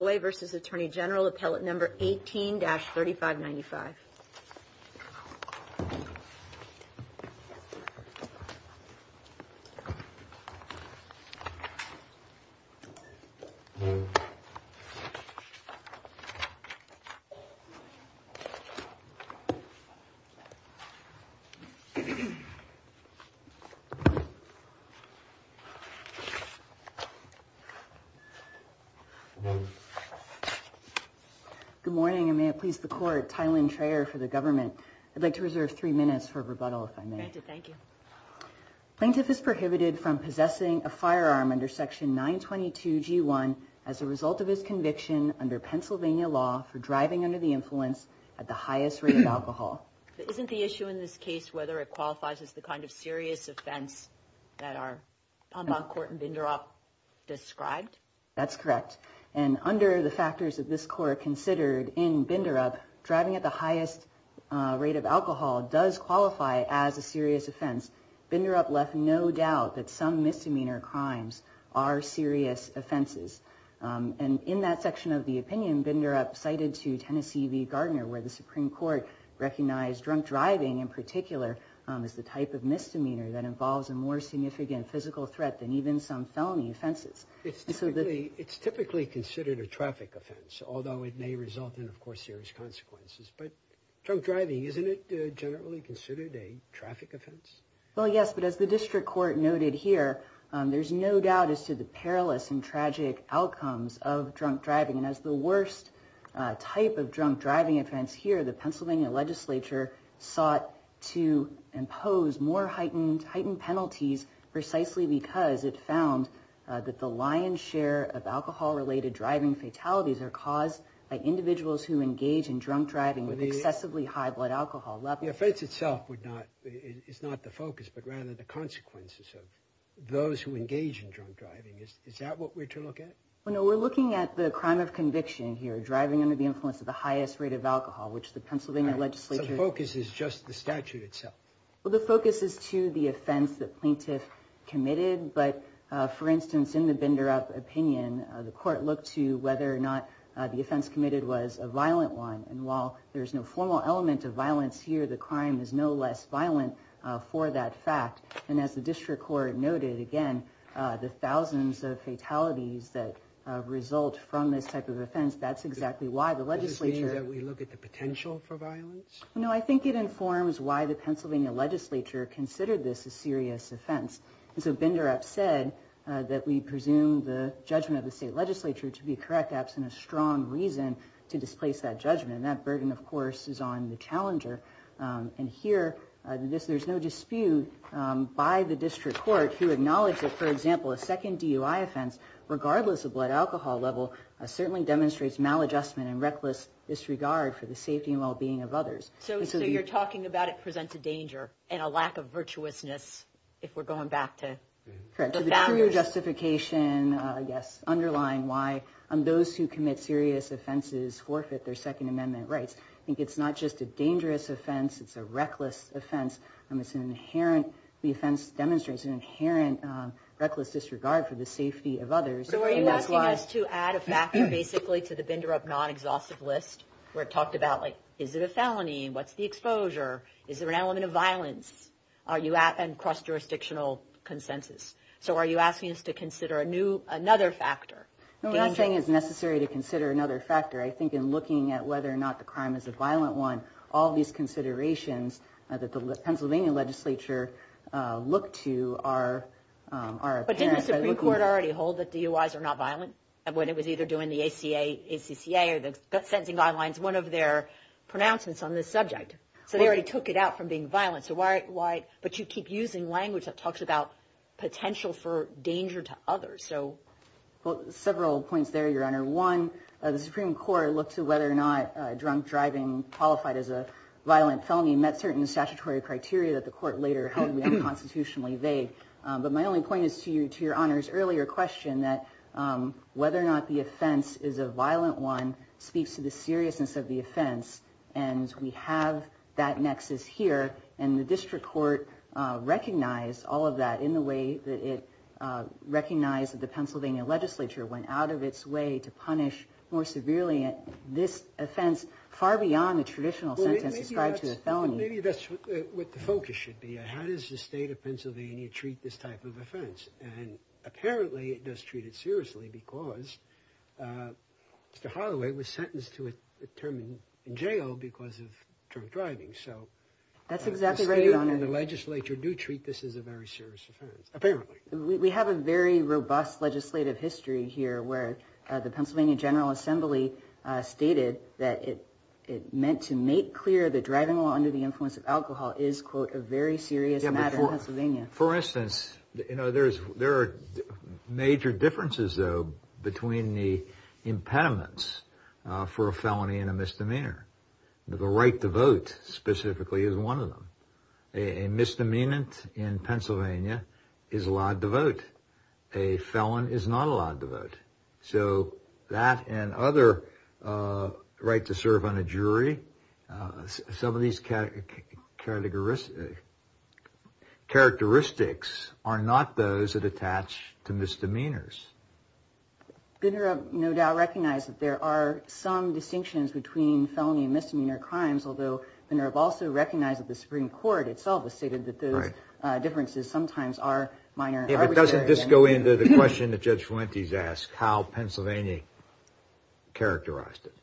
v. Attorney General, Appellate No. 18-3595. Good morning and may it please the court, Tylynn Traer for the government. I'd like to reserve three minutes for rebuttal if I may. Thank you. Plaintiff is prohibited from possessing a firearm under section 922 g1 as a result of his conviction under Pennsylvania law for driving under the influence at the highest rate of alcohol. Isn't the issue in this case whether it qualifies as the kind of serious offense that our Pombok court in Vindorop described? That's correct and under the factors of this court considered in Vindorop, driving at the highest rate of alcohol does qualify as a serious offense. Vindorop left no doubt that some misdemeanor crimes are serious offenses and in that section of the opinion Vindorop cited to Tennessee v. Gardner where the Supreme Court recognized drunk driving in particular is the type of misdemeanor that involves a more significant physical threat than even some felony offenses. It's typically considered a traffic offense although it may result in of course serious consequences but drunk driving isn't it generally considered a traffic offense? Well yes but as the district court noted here there's no doubt as to the perilous and tragic outcomes of drunk driving and as the worst type of drunk driving offense here the Pennsylvania legislature sought to impose more heightened penalties precisely because it found that the lion's share of alcohol-related driving fatalities are caused by individuals who engage in drunk driving with excessively high blood alcohol. The offense itself is not the focus but rather the consequences of those who engage in drunk driving. Is that what we're to look at? No we're looking at the crime of conviction here driving under the influence of the highest rate of alcohol which the Pennsylvania legislature... So the focus is just the statute itself? Well the focus is to the offense that plaintiff committed but for instance in the Binderup opinion the court looked to whether or not the offense committed was a violent one and while there's no formal element of violence here the crime is no less violent for that fact and as the district court noted again the thousands of fatalities that result from this type of offense that's exactly why the legislature... Does this mean that we look at the potential for violence? No I think it informs why the Pennsylvania legislature considered this a serious offense and so Binderup said that we presume the judgment of the state legislature to be correct absent a strong reason to displace that judgment and that burden of course is on the challenger and here there's no dispute by the district court who acknowledged that for example a second DUI offense regardless of blood alcohol level certainly demonstrates maladjustment and reckless disregard for the safety and well-being of others. So you're talking about it presents a lack of virtuousness if we're going back to the founders. Correct, to the truer justification I guess underline why those who commit serious offenses forfeit their Second Amendment rights I think it's not just a dangerous offense it's a reckless offense and it's an inherent the offense demonstrates an inherent reckless disregard for the safety of others. So are you asking us to add a factor basically to the Binderup non-exhaustive list where it talked about like is it a felony what's the exposure is there an element of violence are you at and cross jurisdictional consensus so are you asking us to consider a new another factor? What I'm saying is necessary to consider another factor I think in looking at whether or not the crime is a violent one all these considerations that the Pennsylvania legislature look to are. But didn't the Supreme Court already hold that DUIs are not violent and when it was either doing the ACA ACCA or the sentencing guidelines one of their pronouncements on this subject so they already took it out from being violent so why but you keep using language that talks about potential for danger to others so. Well several points there your honor one the Supreme Court looked to whether or not drunk driving qualified as a violent felony met certain statutory criteria that the court later held constitutionally vague but my only point is to you to your honors earlier question that whether or not the offense is a violent one speaks to the seriousness of the offense and we have that nexus here and the district court recognized all of that in the way that it recognized that the Pennsylvania legislature went out of its way to punish more severely this offense far beyond the traditional sentence described to a felony. Maybe that's what the focus should be how does the state of Pennsylvania treat this type of offense and apparently it does treat it to a term in jail because of drunk driving so that's exactly right your honor the legislature do treat this as a very serious offense apparently. We have a very robust legislative history here where the Pennsylvania General Assembly stated that it it meant to make clear the driving law under the influence of alcohol is quote a very serious matter in Pennsylvania. For instance you know there's there are major differences though between the impediments for a felony and a misdemeanor. The right to vote specifically is one of them. A misdemeanant in Pennsylvania is allowed to vote. A felon is not allowed to vote. So that and other right to serve on a jury some of these characteristics are not those that attach to misdemeanors. Binner no doubt recognized that there are some distinctions between felony and misdemeanor crimes although Binner have also recognized that the Supreme Court itself has stated that those differences sometimes are minor. If it doesn't just go into the question that Judge Fuentes asked how Pennsylvania characterized it.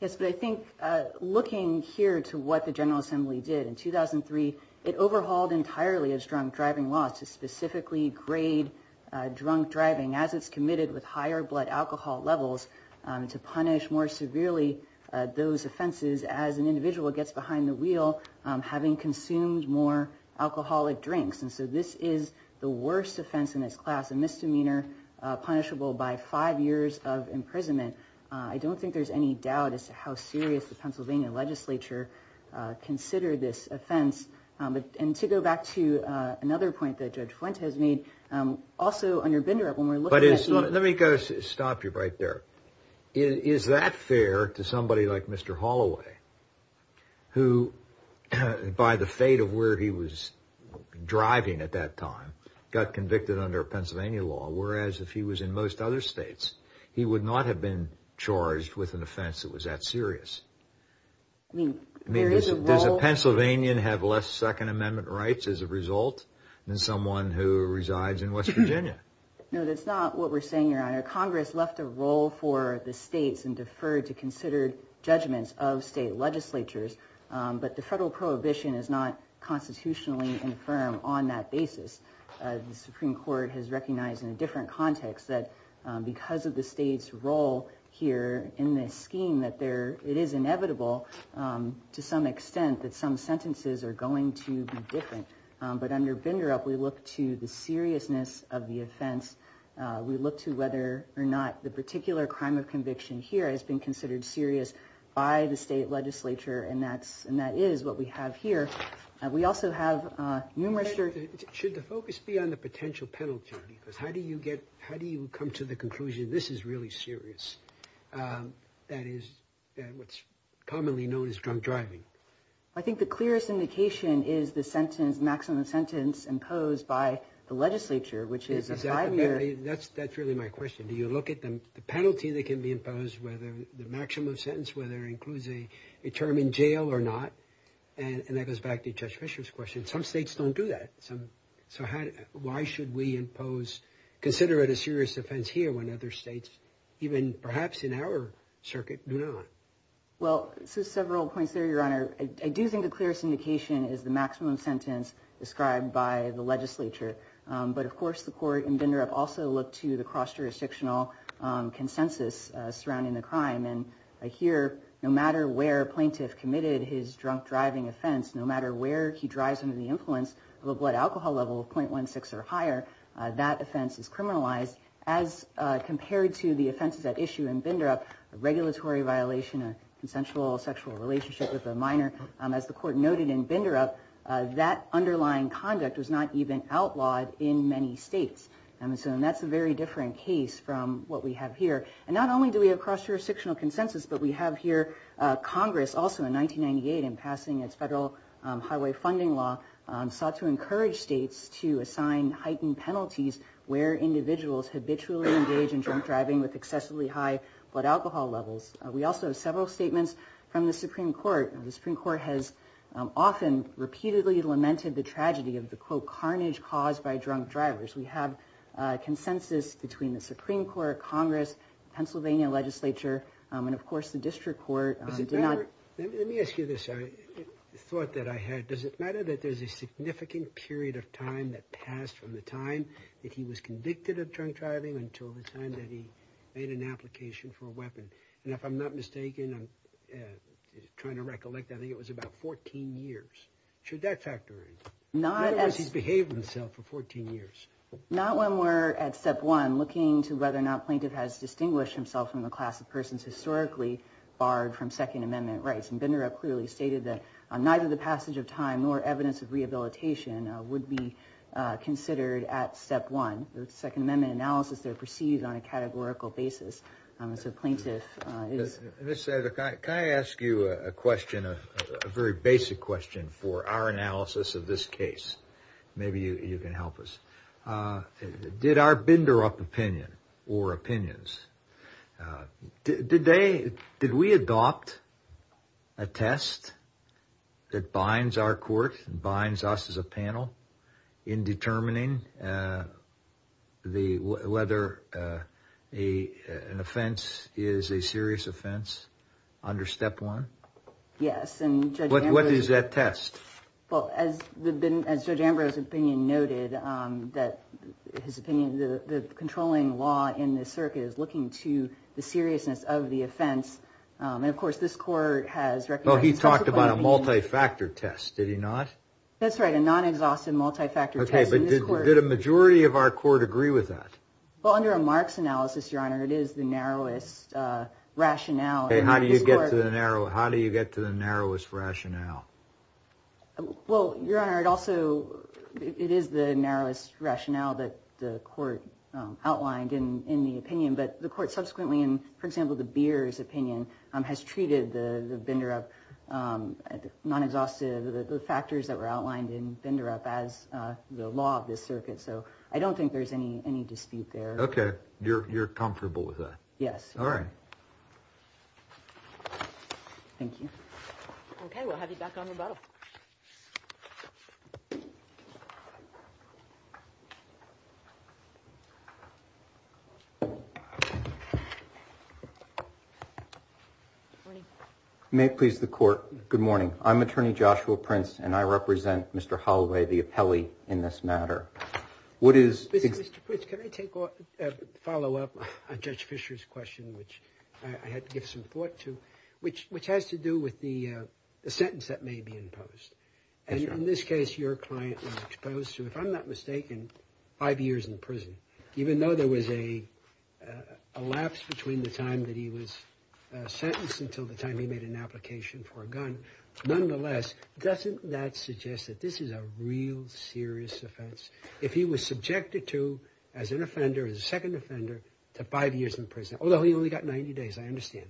Yes but I looking here to what the General Assembly did in 2003 it overhauled entirely as drunk driving laws to specifically grade drunk driving as it's committed with higher blood alcohol levels to punish more severely those offenses as an individual gets behind the wheel having consumed more alcoholic drinks and so this is the worst offense in its class a misdemeanor punishable by five years of imprisonment I don't think there's any doubt as to how serious the Pennsylvania legislature considered this offense but and to go back to another point that Judge Fuentes made also under Binder up when we're looking but it's not let me go stop you right there is that fair to somebody like mr. Holloway who by the fate of where he was driving at that time got in most other states he would not have been charged with an offense that was that serious I mean there's a Pennsylvania and have less Second Amendment rights as a result than someone who resides in West Virginia no that's not what we're saying your honor Congress left a role for the states and deferred to consider judgments of state legislatures but the federal prohibition is not constitutionally infirm on that basis the Supreme Court has recognized in a different context that because of the state's role here in this scheme that there it is inevitable to some extent that some sentences are going to be different but under binder up we look to the seriousness of the offense we look to whether or not the particular crime of conviction here has been considered serious by the state legislature and that's and that is what we have here we also have numerous should the focus be on the potential penalty because how do you get how do you come to the conclusion this is really serious that is what's commonly known as drunk driving I think the clearest indication is the sentence maximum sentence imposed by the legislature which is exactly that's that's really my question do you look at them the penalty that can be imposed whether the maximum sentence whether includes a determined jail or not and that goes back to judge Fisher's question some states don't do that some so how why should we impose consider it a serious offense here when other states even perhaps in our circuit do not well several points there your honor I do think the clearest indication is the maximum sentence described by the legislature but of course the court and vendor have also looked to the cross jurisdictional consensus surrounding the crime and I hear no matter where plaintiff committed his drunk driving offense no matter where he drives into the influence of a blood alcohol level of 0.16 or higher that offense is criminalized as compared to the offenses at issue and vendor up a regulatory violation a consensual sexual relationship with a minor as the court noted in binder up that underlying conduct was not even outlawed in many states and so and that's a very different case from what we have here and not only do we have cross jurisdictional consensus but we have here Congress also in 1998 in passing its federal highway funding law sought to encourage states to assign heightened penalties where individuals habitually engage in drunk driving with excessively high blood alcohol levels we also have several statements from the Supreme Court the Supreme Court has often repeatedly lamented the tragedy of the quote carnage caused by drunk drivers we have consensus between the Supreme Court Congress Pennsylvania legislature and of course the district court let me ask you this I thought that I had does it matter that there's a significant period of time that passed from the time that he was convicted of drunk driving until the time that he made an application for a weapon and if I'm not mistaken I'm trying to recollect I think it was about 14 years should that factor not as he's behaved himself for 14 years not when we're at step one looking to whether or not plaintiff has distinguished himself from the class of historically barred from Second Amendment rights and Binder up clearly stated that on neither the passage of time nor evidence of rehabilitation would be considered at step one the Second Amendment analysis they're perceived on a categorical basis so plaintiff is this I ask you a question a very basic question for our analysis of this case maybe you can help us did our did we adopt a test that binds our court binds us as a panel in determining the whether a an offense is a serious offense under step one yes and what is that test well as the been as judge Ambrose opinion noted that his opinion the controlling law in this circuit is looking to the seriousness of the offense and of course this court has well he talked about a multi-factor test did he not that's right a non-exhaustive multi-factor okay but did a majority of our court agree with that well under a marks analysis your honor it is the narrowest rationale and how do you get to the narrow how do you get to the narrowest rationale well your honor it also it is the narrowest rationale that the court outlined in in the opinion but the court subsequently in for example the beers opinion has treated the the bender up non-exhaustive the factors that were outlined in bender up as the law of this circuit so I don't think there's any any dispute there okay you're comfortable with that yes all may please the court good morning I'm attorney Joshua Prince and I represent mr. Holloway the appellee in this matter what is follow-up on judge Fisher's question which I had to give some thought to which which has to do with the sentence that may be imposed and in this case your client was exposed to if I'm not mistaken five years in prison even though there was a lapse between the time that he was sentenced until the time he made an application nonetheless doesn't that suggest that this is a real serious offense if he was subjected to as an offender as a second offender to five years in prison although he only got 90 days I understand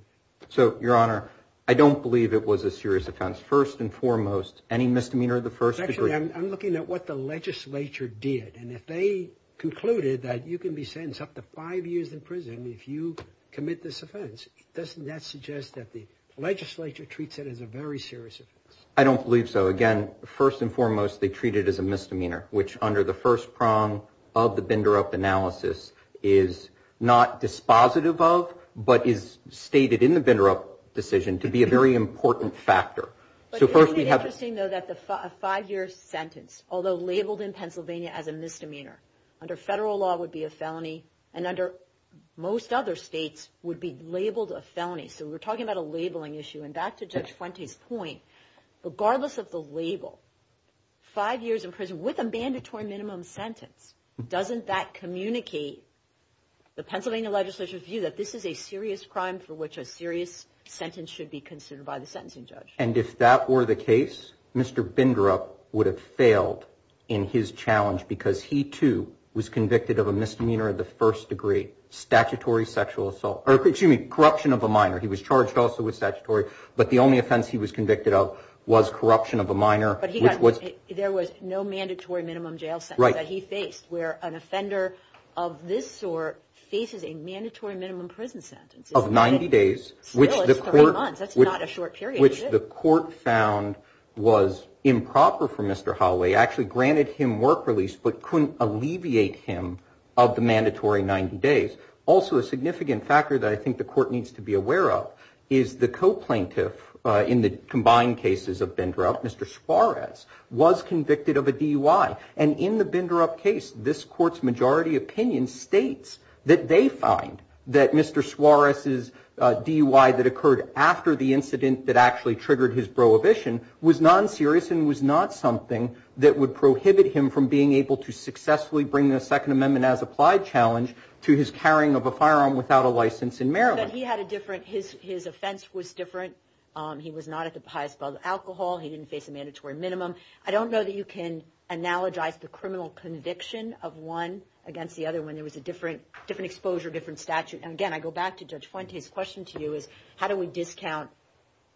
so your honor I don't believe it was a serious offense first and foremost any misdemeanor of the first I'm looking at what the legislature did and if they concluded that you can be sentenced up to five years in prison if you commit this offense doesn't that that the legislature treats it as a very serious I don't believe so again first and foremost they treat it as a misdemeanor which under the first prong of the binder up analysis is not dispositive of but is stated in the vendor up decision to be a very important factor so first we have interesting though that the five-year sentence although labeled in Pennsylvania as a misdemeanor under federal law would be a felony and under most other states would be labeled a felony so we're talking about a labeling issue and back to judge point regardless of the label five years in prison with a mandatory minimum sentence doesn't that communicate the Pennsylvania legislature view that this is a serious crime for which a serious sentence should be considered by the sentencing judge and if that were the case mr. binder up would have failed in his challenge because he too was convicted of a misdemeanor of the first degree statutory sexual assault or excuse me corruption of a minor he was charged also with statutory but the only offense he was convicted of was corruption of a minor but he was there was no mandatory minimum jail right he faced where an offender of this or faces a mandatory minimum prison sentence of 90 days which the court would not a short period which the court found was improper for mr. Holloway actually granted him work but couldn't alleviate him of the mandatory 90 days also a significant factor that I think the court needs to be aware of is the co-plaintiff in the combined cases of bender up mr. Suarez was convicted of a DUI and in the binder up case this court's majority opinion states that they find that mr. Suarez is DUI that occurred after the incident that actually triggered his prohibition was non-serious and was not something that would prohibit him from being able to successfully bring the Second Amendment as applied challenge to his carrying of a firearm without a license in Maryland he had a different his his offense was different he was not at the highest level alcohol he didn't face a mandatory minimum I don't know that you can analogize the criminal conviction of one against the other when there was a different different exposure different statute and again I go back to judge Fuentes question to you is how do we discount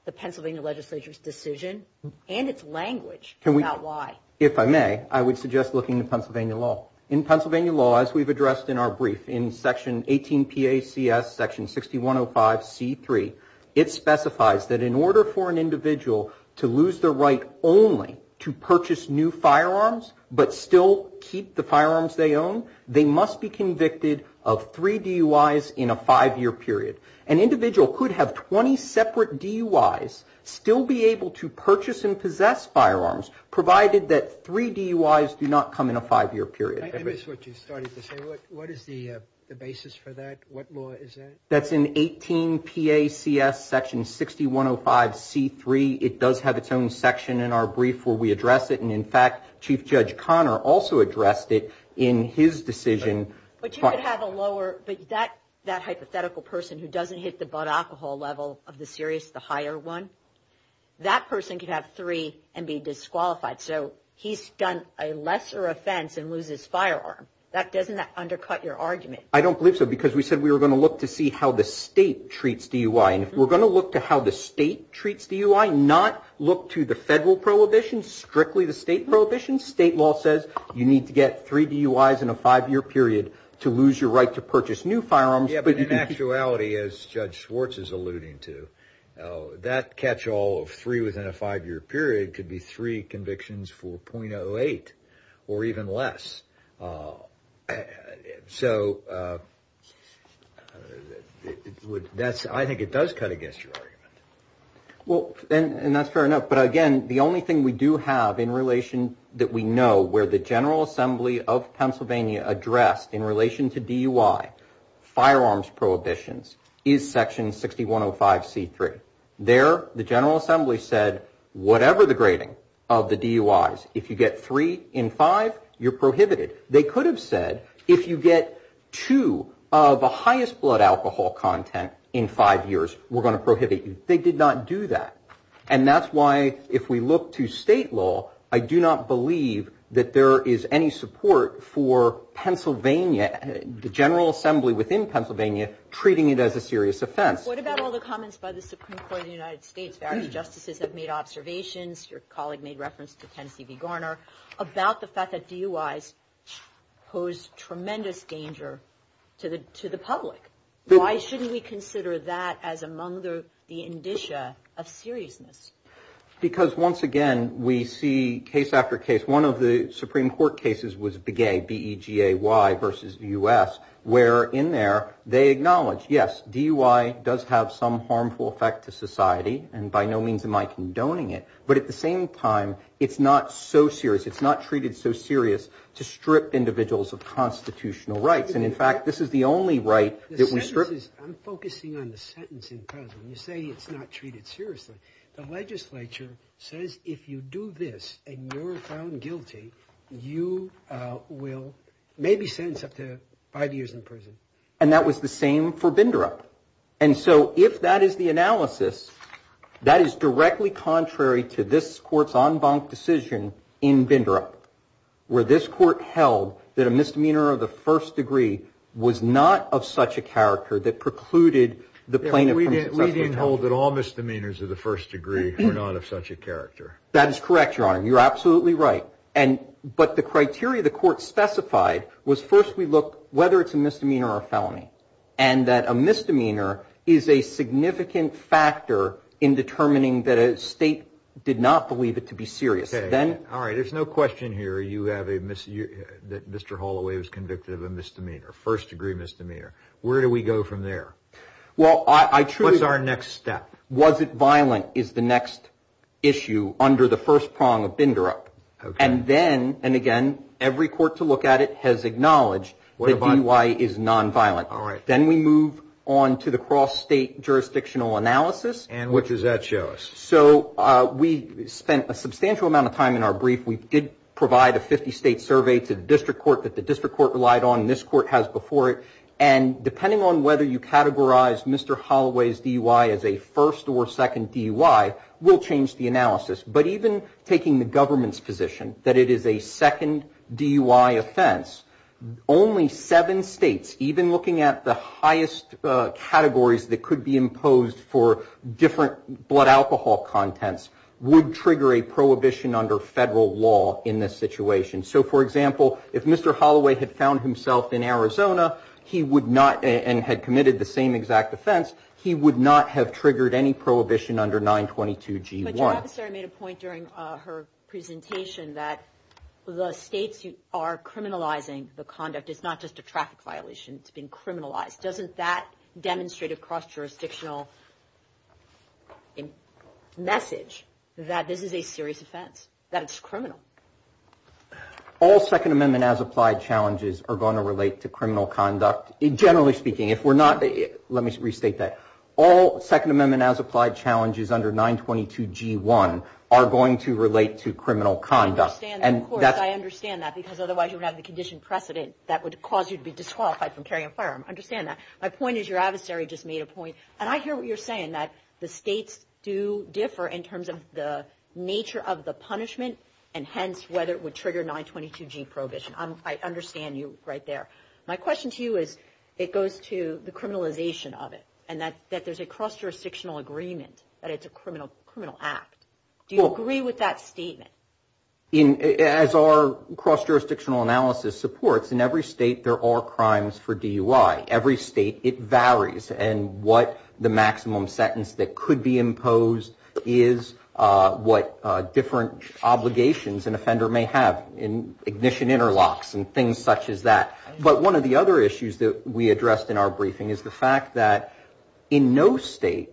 the Pennsylvania legislature's decision and its language if I may I would suggest looking to Pennsylvania law in Pennsylvania law as we've addressed in our brief in section 18 PA CS section 6105 c3 it specifies that in order for an individual to lose the right only to purchase new firearms but still keep the firearms they own they must be convicted of three DUIs in a five-year period an individual could have 20 separate DUIs still be able to provided that three DUIs do not come in a five-year period that's in 18 PA CS section 6105 c3 it does have its own section in our brief where we address it and in fact Chief Judge Connor also addressed it in his decision but you could have a lower but that that hypothetical person who doesn't hit the but alcohol level of the serious the higher one that person could have three and be disqualified so he's done a lesser offense and loses firearm that doesn't that undercut your argument I don't believe so because we said we were going to look to see how the state treats DUI and if we're going to look to how the state treats DUI not look to the federal prohibition strictly the state prohibition state law says you need to get three DUIs in a five-year period to lose your right to purchase new firearms but in actuality as Judge Schwartz is it could be three convictions 4.08 or even less so that's I think it does cut against your argument well and that's fair enough but again the only thing we do have in relation that we know where the General Assembly of Pennsylvania addressed in relation to DUI firearms prohibitions is section 6105 c3 there the General Assembly said whatever the grading of the DUIs if you get three in five you're prohibited they could have said if you get two of the highest blood alcohol content in five years we're going to prohibit you they did not do that and that's why if we look to state law I do not believe that there is any support for Pennsylvania the General Assembly within Pennsylvania treating it as a serious offense. What about all the comments by the Supreme Court of the United States various justices have made observations your colleague made reference to Tennessee v. Garner about the fact that DUIs pose tremendous danger to the to the public why shouldn't we consider that as among the the indicia of seriousness because once again we see case after case one of the Supreme Court cases was BEGAY versus the U.S. where in there they acknowledge yes DUI does have some harmful effect to society and by no means am I condoning it but at the same time it's not so serious it's not treated so serious to strip individuals of constitutional rights and in fact this is the only right. I'm focusing on the sentence in Pennsylvania. You say it's not treated seriously. The legislature says if you do this and you're found guilty you will maybe sentence up to five years in prison. And that was the same for Bindrup and so if that is the analysis that is directly contrary to this courts en banc decision in Bindrup where this court held that a misdemeanor of the first degree was not of such a character that precluded the plaintiff We didn't hold that all misdemeanors of the first degree were not of such a But the criteria the court specified was first we look whether it's a misdemeanor or a felony and that a misdemeanor is a significant factor in determining that a state did not believe it to be serious. All right there's no question here that Mr. Holloway was convicted of a misdemeanor, a first degree misdemeanor. Where do we go from there? What's our next step? Was it violent is the next issue under the first prong of Bindrup. And then and again every court to look at it has acknowledged that DUI is non-violent. All right then we move on to the cross state jurisdictional analysis. And what does that show us? So we spent a substantial amount of time in our brief. We did provide a 50 state survey to the district court that the district court relied on. This court has before it and depending on whether you categorize Mr. Holloway's DUI as a first or second DUI will change the analysis. But even taking the government's position that it is a second DUI offense, only seven states even looking at the highest categories that could be imposed for different blood alcohol contents would trigger a prohibition under federal law in this situation. So for example if Mr. Holloway had found himself in Arizona he would not and had committed the same exact offense he would not have triggered any prohibition under 922 G1. But your officer made a point during her presentation that the states are criminalizing the conduct it's not just a traffic violation it's been criminalized. Doesn't that demonstrate a cross jurisdictional message that this is a serious offense, that it's criminal? All Second Amendment as applied challenges are going to relate to criminal conduct. Generally speaking if we're not, let me restate that. All Second Amendment as applied challenges under 922 G1 are going to relate to criminal conduct. I understand that because otherwise you would have the condition precedent that would cause you to be disqualified from carrying a firearm. I understand that. My point is your adversary just made a point. And I hear what you're saying that the states do differ in terms of the nature of the punishment. And hence whether it would trigger 922 G prohibition. I understand you right there. My question to you is it goes to the criminalization of it. And that there's a cross jurisdictional agreement that it's a criminal act. Do you agree with that statement? As our cross jurisdictional analysis supports in every state there are crimes for DUI. Every state it varies. And what the maximum sentence that could be imposed is what different obligations an offender may have. In ignition interlocks and things such as that. But one of the other issues that we addressed in our briefing is the fact that in no state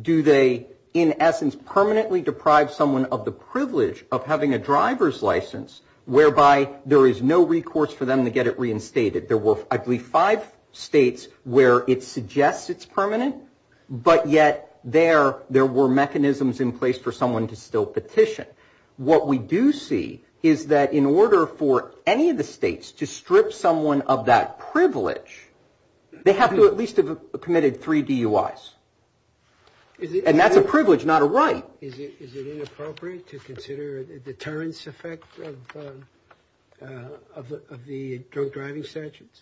do they in essence permanently deprive someone of the privilege of having a driver's license. Whereby there is no recourse for them to get it reinstated. There were I believe five states where it suggests it's permanent. But yet there there were mechanisms in place for someone to still petition. What we do see is that in order for any of the states to strip someone of that privilege they have to at least have committed three DUIs. And that's a privilege not a right. Is it inappropriate to consider the deterrence effect of the drug driving statutes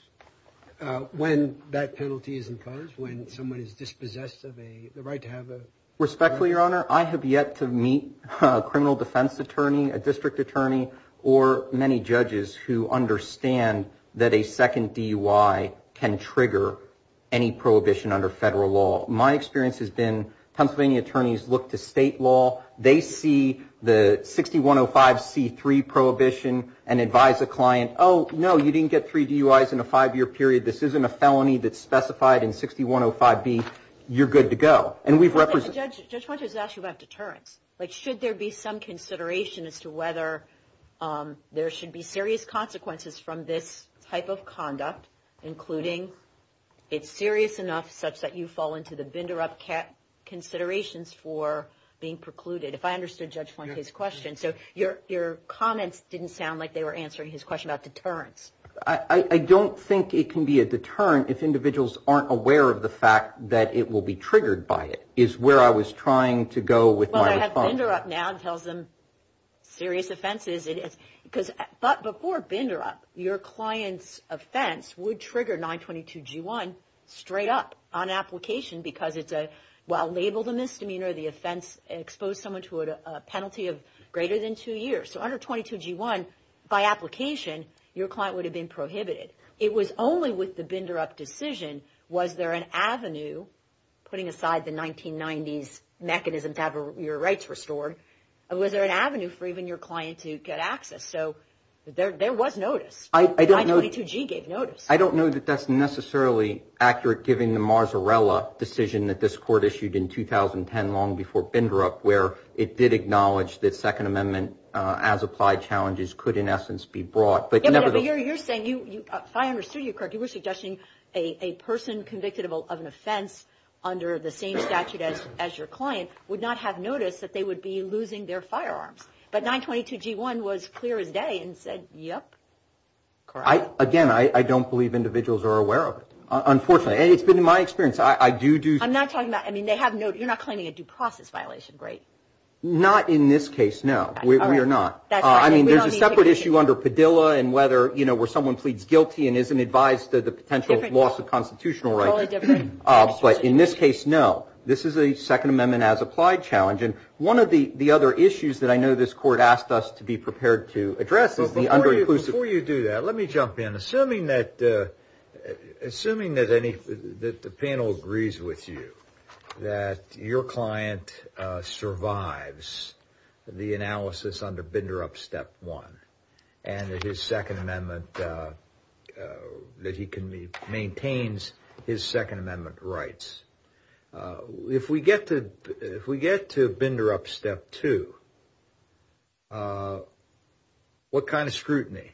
when that penalty is imposed when someone is dispossessed of the right to have a. Respectfully your honor I have yet to meet a criminal defense attorney a district attorney or many judges who understand that a second DUI can trigger any prohibition under federal law. My experience has been Pennsylvania attorneys look to state law. They see the 6105 C3 prohibition and advise a client. Oh no you didn't get three DUIs in a five year period. This isn't a felony that's specified in 6105 B. You're good to go. And we've represented Judge Funches asked you about deterrence. Like should there be some consideration as to whether there should be serious consequences from this type of conduct including. It's serious enough such that you fall into the binder up cat considerations for being precluded. If I understood Judge Funches question so your your comments didn't sound like they were answering his question about deterrence. I don't think it can be a deterrent if individuals aren't aware of the fact that it will be triggered by it is where I was trying to go with. Well I have binder up now tells them serious offenses it is because but before binder up your client's offense would trigger 922 G1 straight up on application because it's a well labeled a misdemeanor the offense exposed someone to a penalty of greater than two years. So under 22 G1 by application your client would have been prohibited. It was only with the binder up decision. Was there an avenue putting aside the 1990s mechanism to have your rights restored. Was there an avenue for even your client to get access. So there was notice. I don't know to G gave notice. I don't know that that's necessarily accurate. Giving the marzarella decision that this court issued in 2010 long before binder up where it did acknowledge that Second Amendment as applied challenges could in essence be brought. But you're saying you understood you correctly were suggesting a person convicted of an offense under the same statute as your client would not have noticed that they would be losing their firearms. But 922 G1 was clear as day and said yep. Again I don't believe individuals are aware of it. Unfortunately it's been in my experience. I do do. I'm not talking about I mean they have no you're not claiming a due process violation. Great. Not in this case. No we are not. I mean there's a separate issue under Padilla and whether you know where someone pleads guilty and isn't advised that the potential loss of constitutional right. But in this case no. This is a Second Amendment as applied challenge and one of the other issues that I know this court asked us to be prepared to address the under who's before you do that. Let me jump in. Assuming that assuming that any that the panel agrees with you that your client survives the analysis under binder up step one and his Second Amendment that he can be maintains his Second Amendment rights. If we get to if we get to binder up step two what kind of scrutiny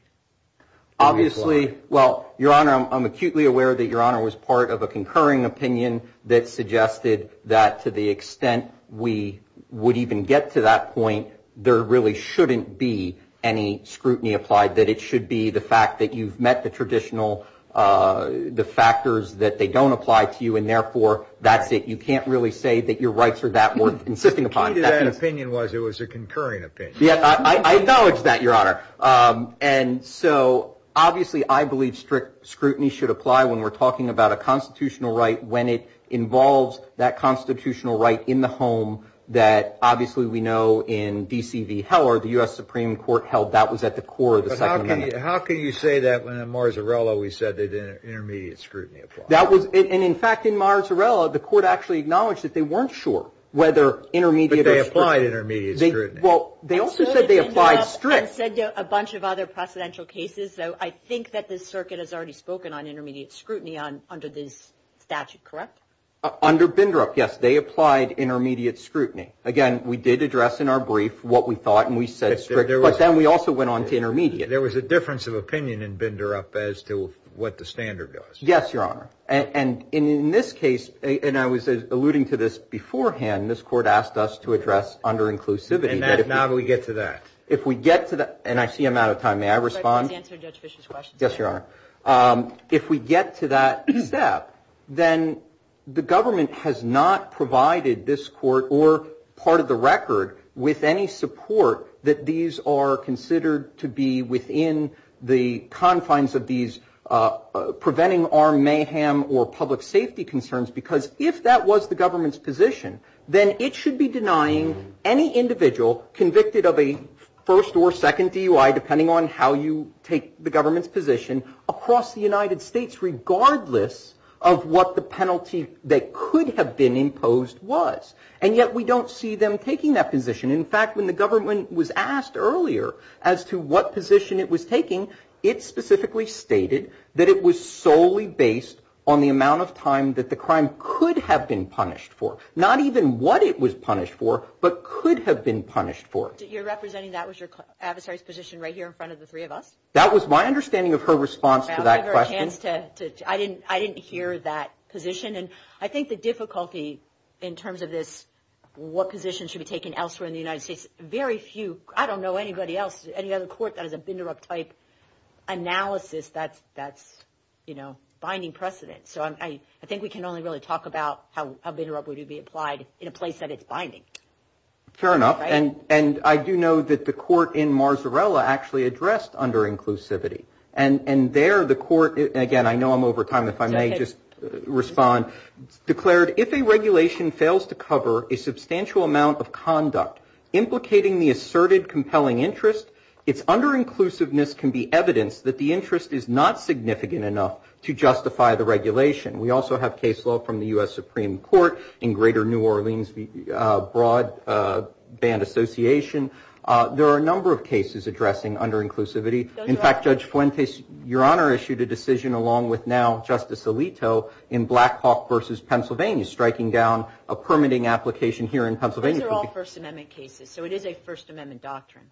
obviously. Well your honor I'm acutely aware that your honor was part of a concurring opinion that suggested that to the extent we would even get to that point. That there really shouldn't be any scrutiny applied that it should be the fact that you've met the traditional the factors that they don't apply to you and therefore that's it. You can't really say that your rights are that worth insisting upon that opinion was it was a concurring opinion. Yeah I acknowledge that your honor. And so obviously I believe strict scrutiny should apply when we're talking about a constitutional right when it involves that constitutional right in the home that obviously we know in DCV Heller the U.S. Supreme Court held that was at the core of the Second Amendment. How can you say that when in Marzarella we said that intermediate scrutiny. That was in fact in Marzarella the court actually acknowledged that they weren't sure whether intermediate they applied intermediate scrutiny. Well they also said they applied strict said a bunch of other precedential cases so I think that this circuit has already spoken on intermediate scrutiny on under this statute correct. Under Bindrup yes they applied intermediate scrutiny. Again we did address in our brief what we thought and we said there was then we also went on to intermediate. There was a difference of opinion in Bindrup as to what the standard does. Yes your honor. And in this case and I was alluding to this beforehand this court asked us to address under inclusivity. And that is now that we get to that if we get to that and I see I'm out of time may I respond. Answer Judge Fisher's question. Yes your honor. If we get to that step then the government has not provided this court or part of the record with any support that these are considered to be within the confines of these. Preventing our mayhem or public safety concerns because if that was the government's position then it should be denying any individual convicted of a first or second DUI depending on how you take the government's position across the United States regardless of what the penalty that could have been imposed was. And yet we don't see them taking that position. In fact when the government was asked earlier as to what position it was taking it specifically stated that it was solely based on the amount of time that the crime could have been punished for. Not even what it was punished for but could have been punished for. You're representing that was your adversary's position right here in front of the three of us. That was my understanding of her response to that question. I didn't hear that position and I think the difficulty in terms of this what position should be taken elsewhere in the United States. Very few I don't know anybody else any other court that has a binder up type analysis that's that's you know binding precedent. So I think we can only really talk about how a bidder up would you be applied in a place that it's binding. Fair enough and I do know that the court in Marzarella actually addressed under inclusivity. And there the court again I know I'm over time if I may just respond declared if a regulation fails to cover a substantial amount of conduct implicating the asserted compelling interest. It's under inclusiveness can be evidence that the interest is not significant enough to justify the regulation. We also have case law from the US Supreme Court in greater New Orleans broad band association. There are a number of cases addressing under inclusivity. In fact Judge Fuentes your honor issued a decision along with now Justice Alito in Blackhawk versus Pennsylvania striking down a permitting application here in Pennsylvania. They're all First Amendment cases. So it is a First Amendment doctrine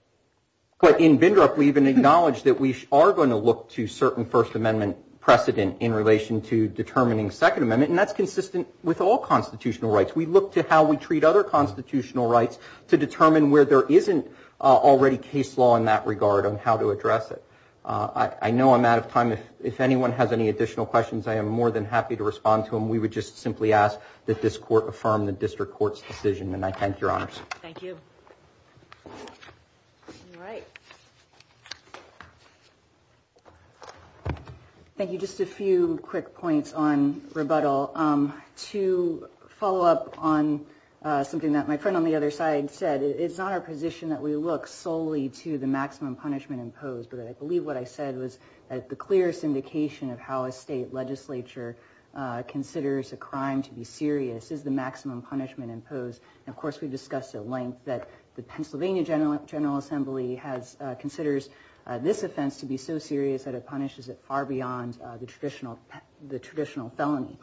but in binder up we even acknowledge that we are going to look to certain First Amendment precedent in relation to determining Second Amendment. And that's consistent with all constitutional rights. We look to how we treat other constitutional rights to determine where there isn't already case law in that regard on how to address it. I know I'm out of time if anyone has any additional questions. I am more than happy to respond to him. We would just simply ask that this court affirm the district court's decision and I thank your honors. Thank you. Thank you just a few quick points on rebuttal. To follow up on something that my friend on the other side said it's not our position that we look solely to the maximum punishment imposed. But I believe what I said was the clearest indication of how a state legislature considers a crime to be serious is the maximum punishment imposed. Of course we've discussed at length that the Pennsylvania General General Assembly has considers this offense to be so serious that it punishes it far beyond the traditional the traditional felony.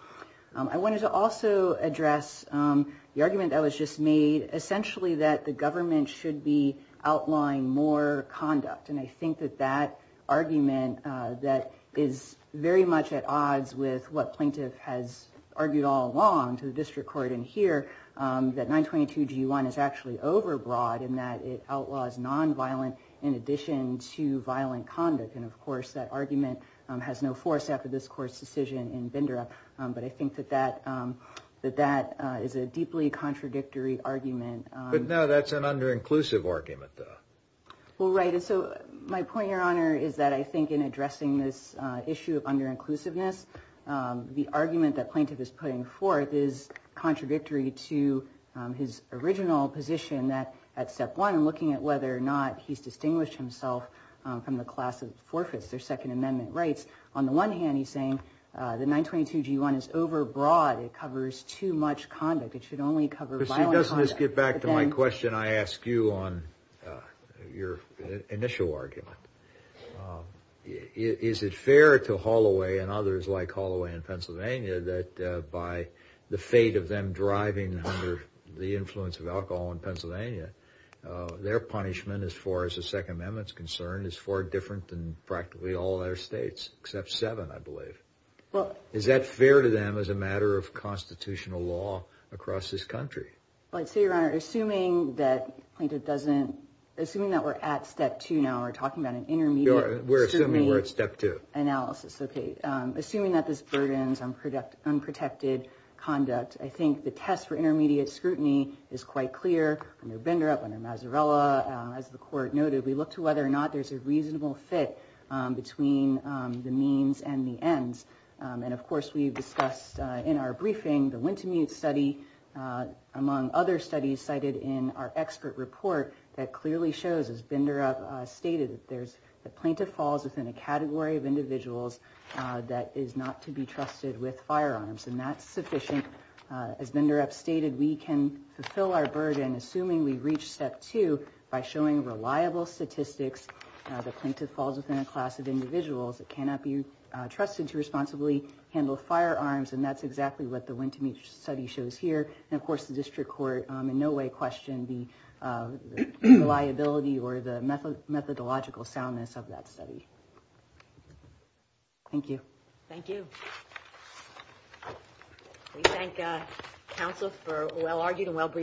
I wanted to also address the argument that was just made essentially that the government should be outlawing more conduct. And I think that that argument that is very much at odds with what plaintiff has argued all along to the district court in here that 922 G1 is actually overbroad in that it outlaws nonviolent in addition to violent conduct. And of course that argument has no force after this court's decision in Bindera. But I think that that that that is a deeply contradictory argument. But now that's an under inclusive argument. Well right. So my point your honor is that I think in addressing this issue of under inclusiveness the argument that plaintiff is putting forth is contradictory to his original position that at step one and looking at whether or not he's distinguished himself from the class of forfeits their Second Amendment rights. On the one hand he's saying the 922 G1 is overbroad. It covers too much conduct. It should only cover violence. Let's get back to my question. I ask you on your initial argument. Is it fair to Holloway and others like Holloway in Pennsylvania that by the fate of them driving under the influence of alcohol in Pennsylvania their punishment as far as the Second Amendment is concerned is far different than practically all their states except seven I believe. Well is that fair to them as a matter of constitutional law across this country. I'd say your honor assuming that plaintiff doesn't assume that we're at step two now we're talking about an intermediate we're assuming we're at step two analysis. Okay. Assuming that this burdens on product unprotected conduct I think the test for intermediate scrutiny is quite clear. Bender up under Masarella as the court noted we look to whether or not there's a reasonable fit between the means and the ends. And of course we discussed in our briefing the Wintemute study among other studies cited in our expert report that clearly shows as Bender up stated that there's a plaintiff falls within a category of individuals that is not to be trusted with firearms and that's sufficient. As Bender upstated we can fulfill our burden assuming we reach step two by showing reliable statistics. The plaintiff falls within a class of individuals that cannot be trusted to responsibly handle firearms and that's exactly what the Wintemute study shows here. And of course the district court in no way question the liability or the method methodological soundness of that study. Thank you. Thank you. Thank you. We thank counsel for a well-argued and well-briefed.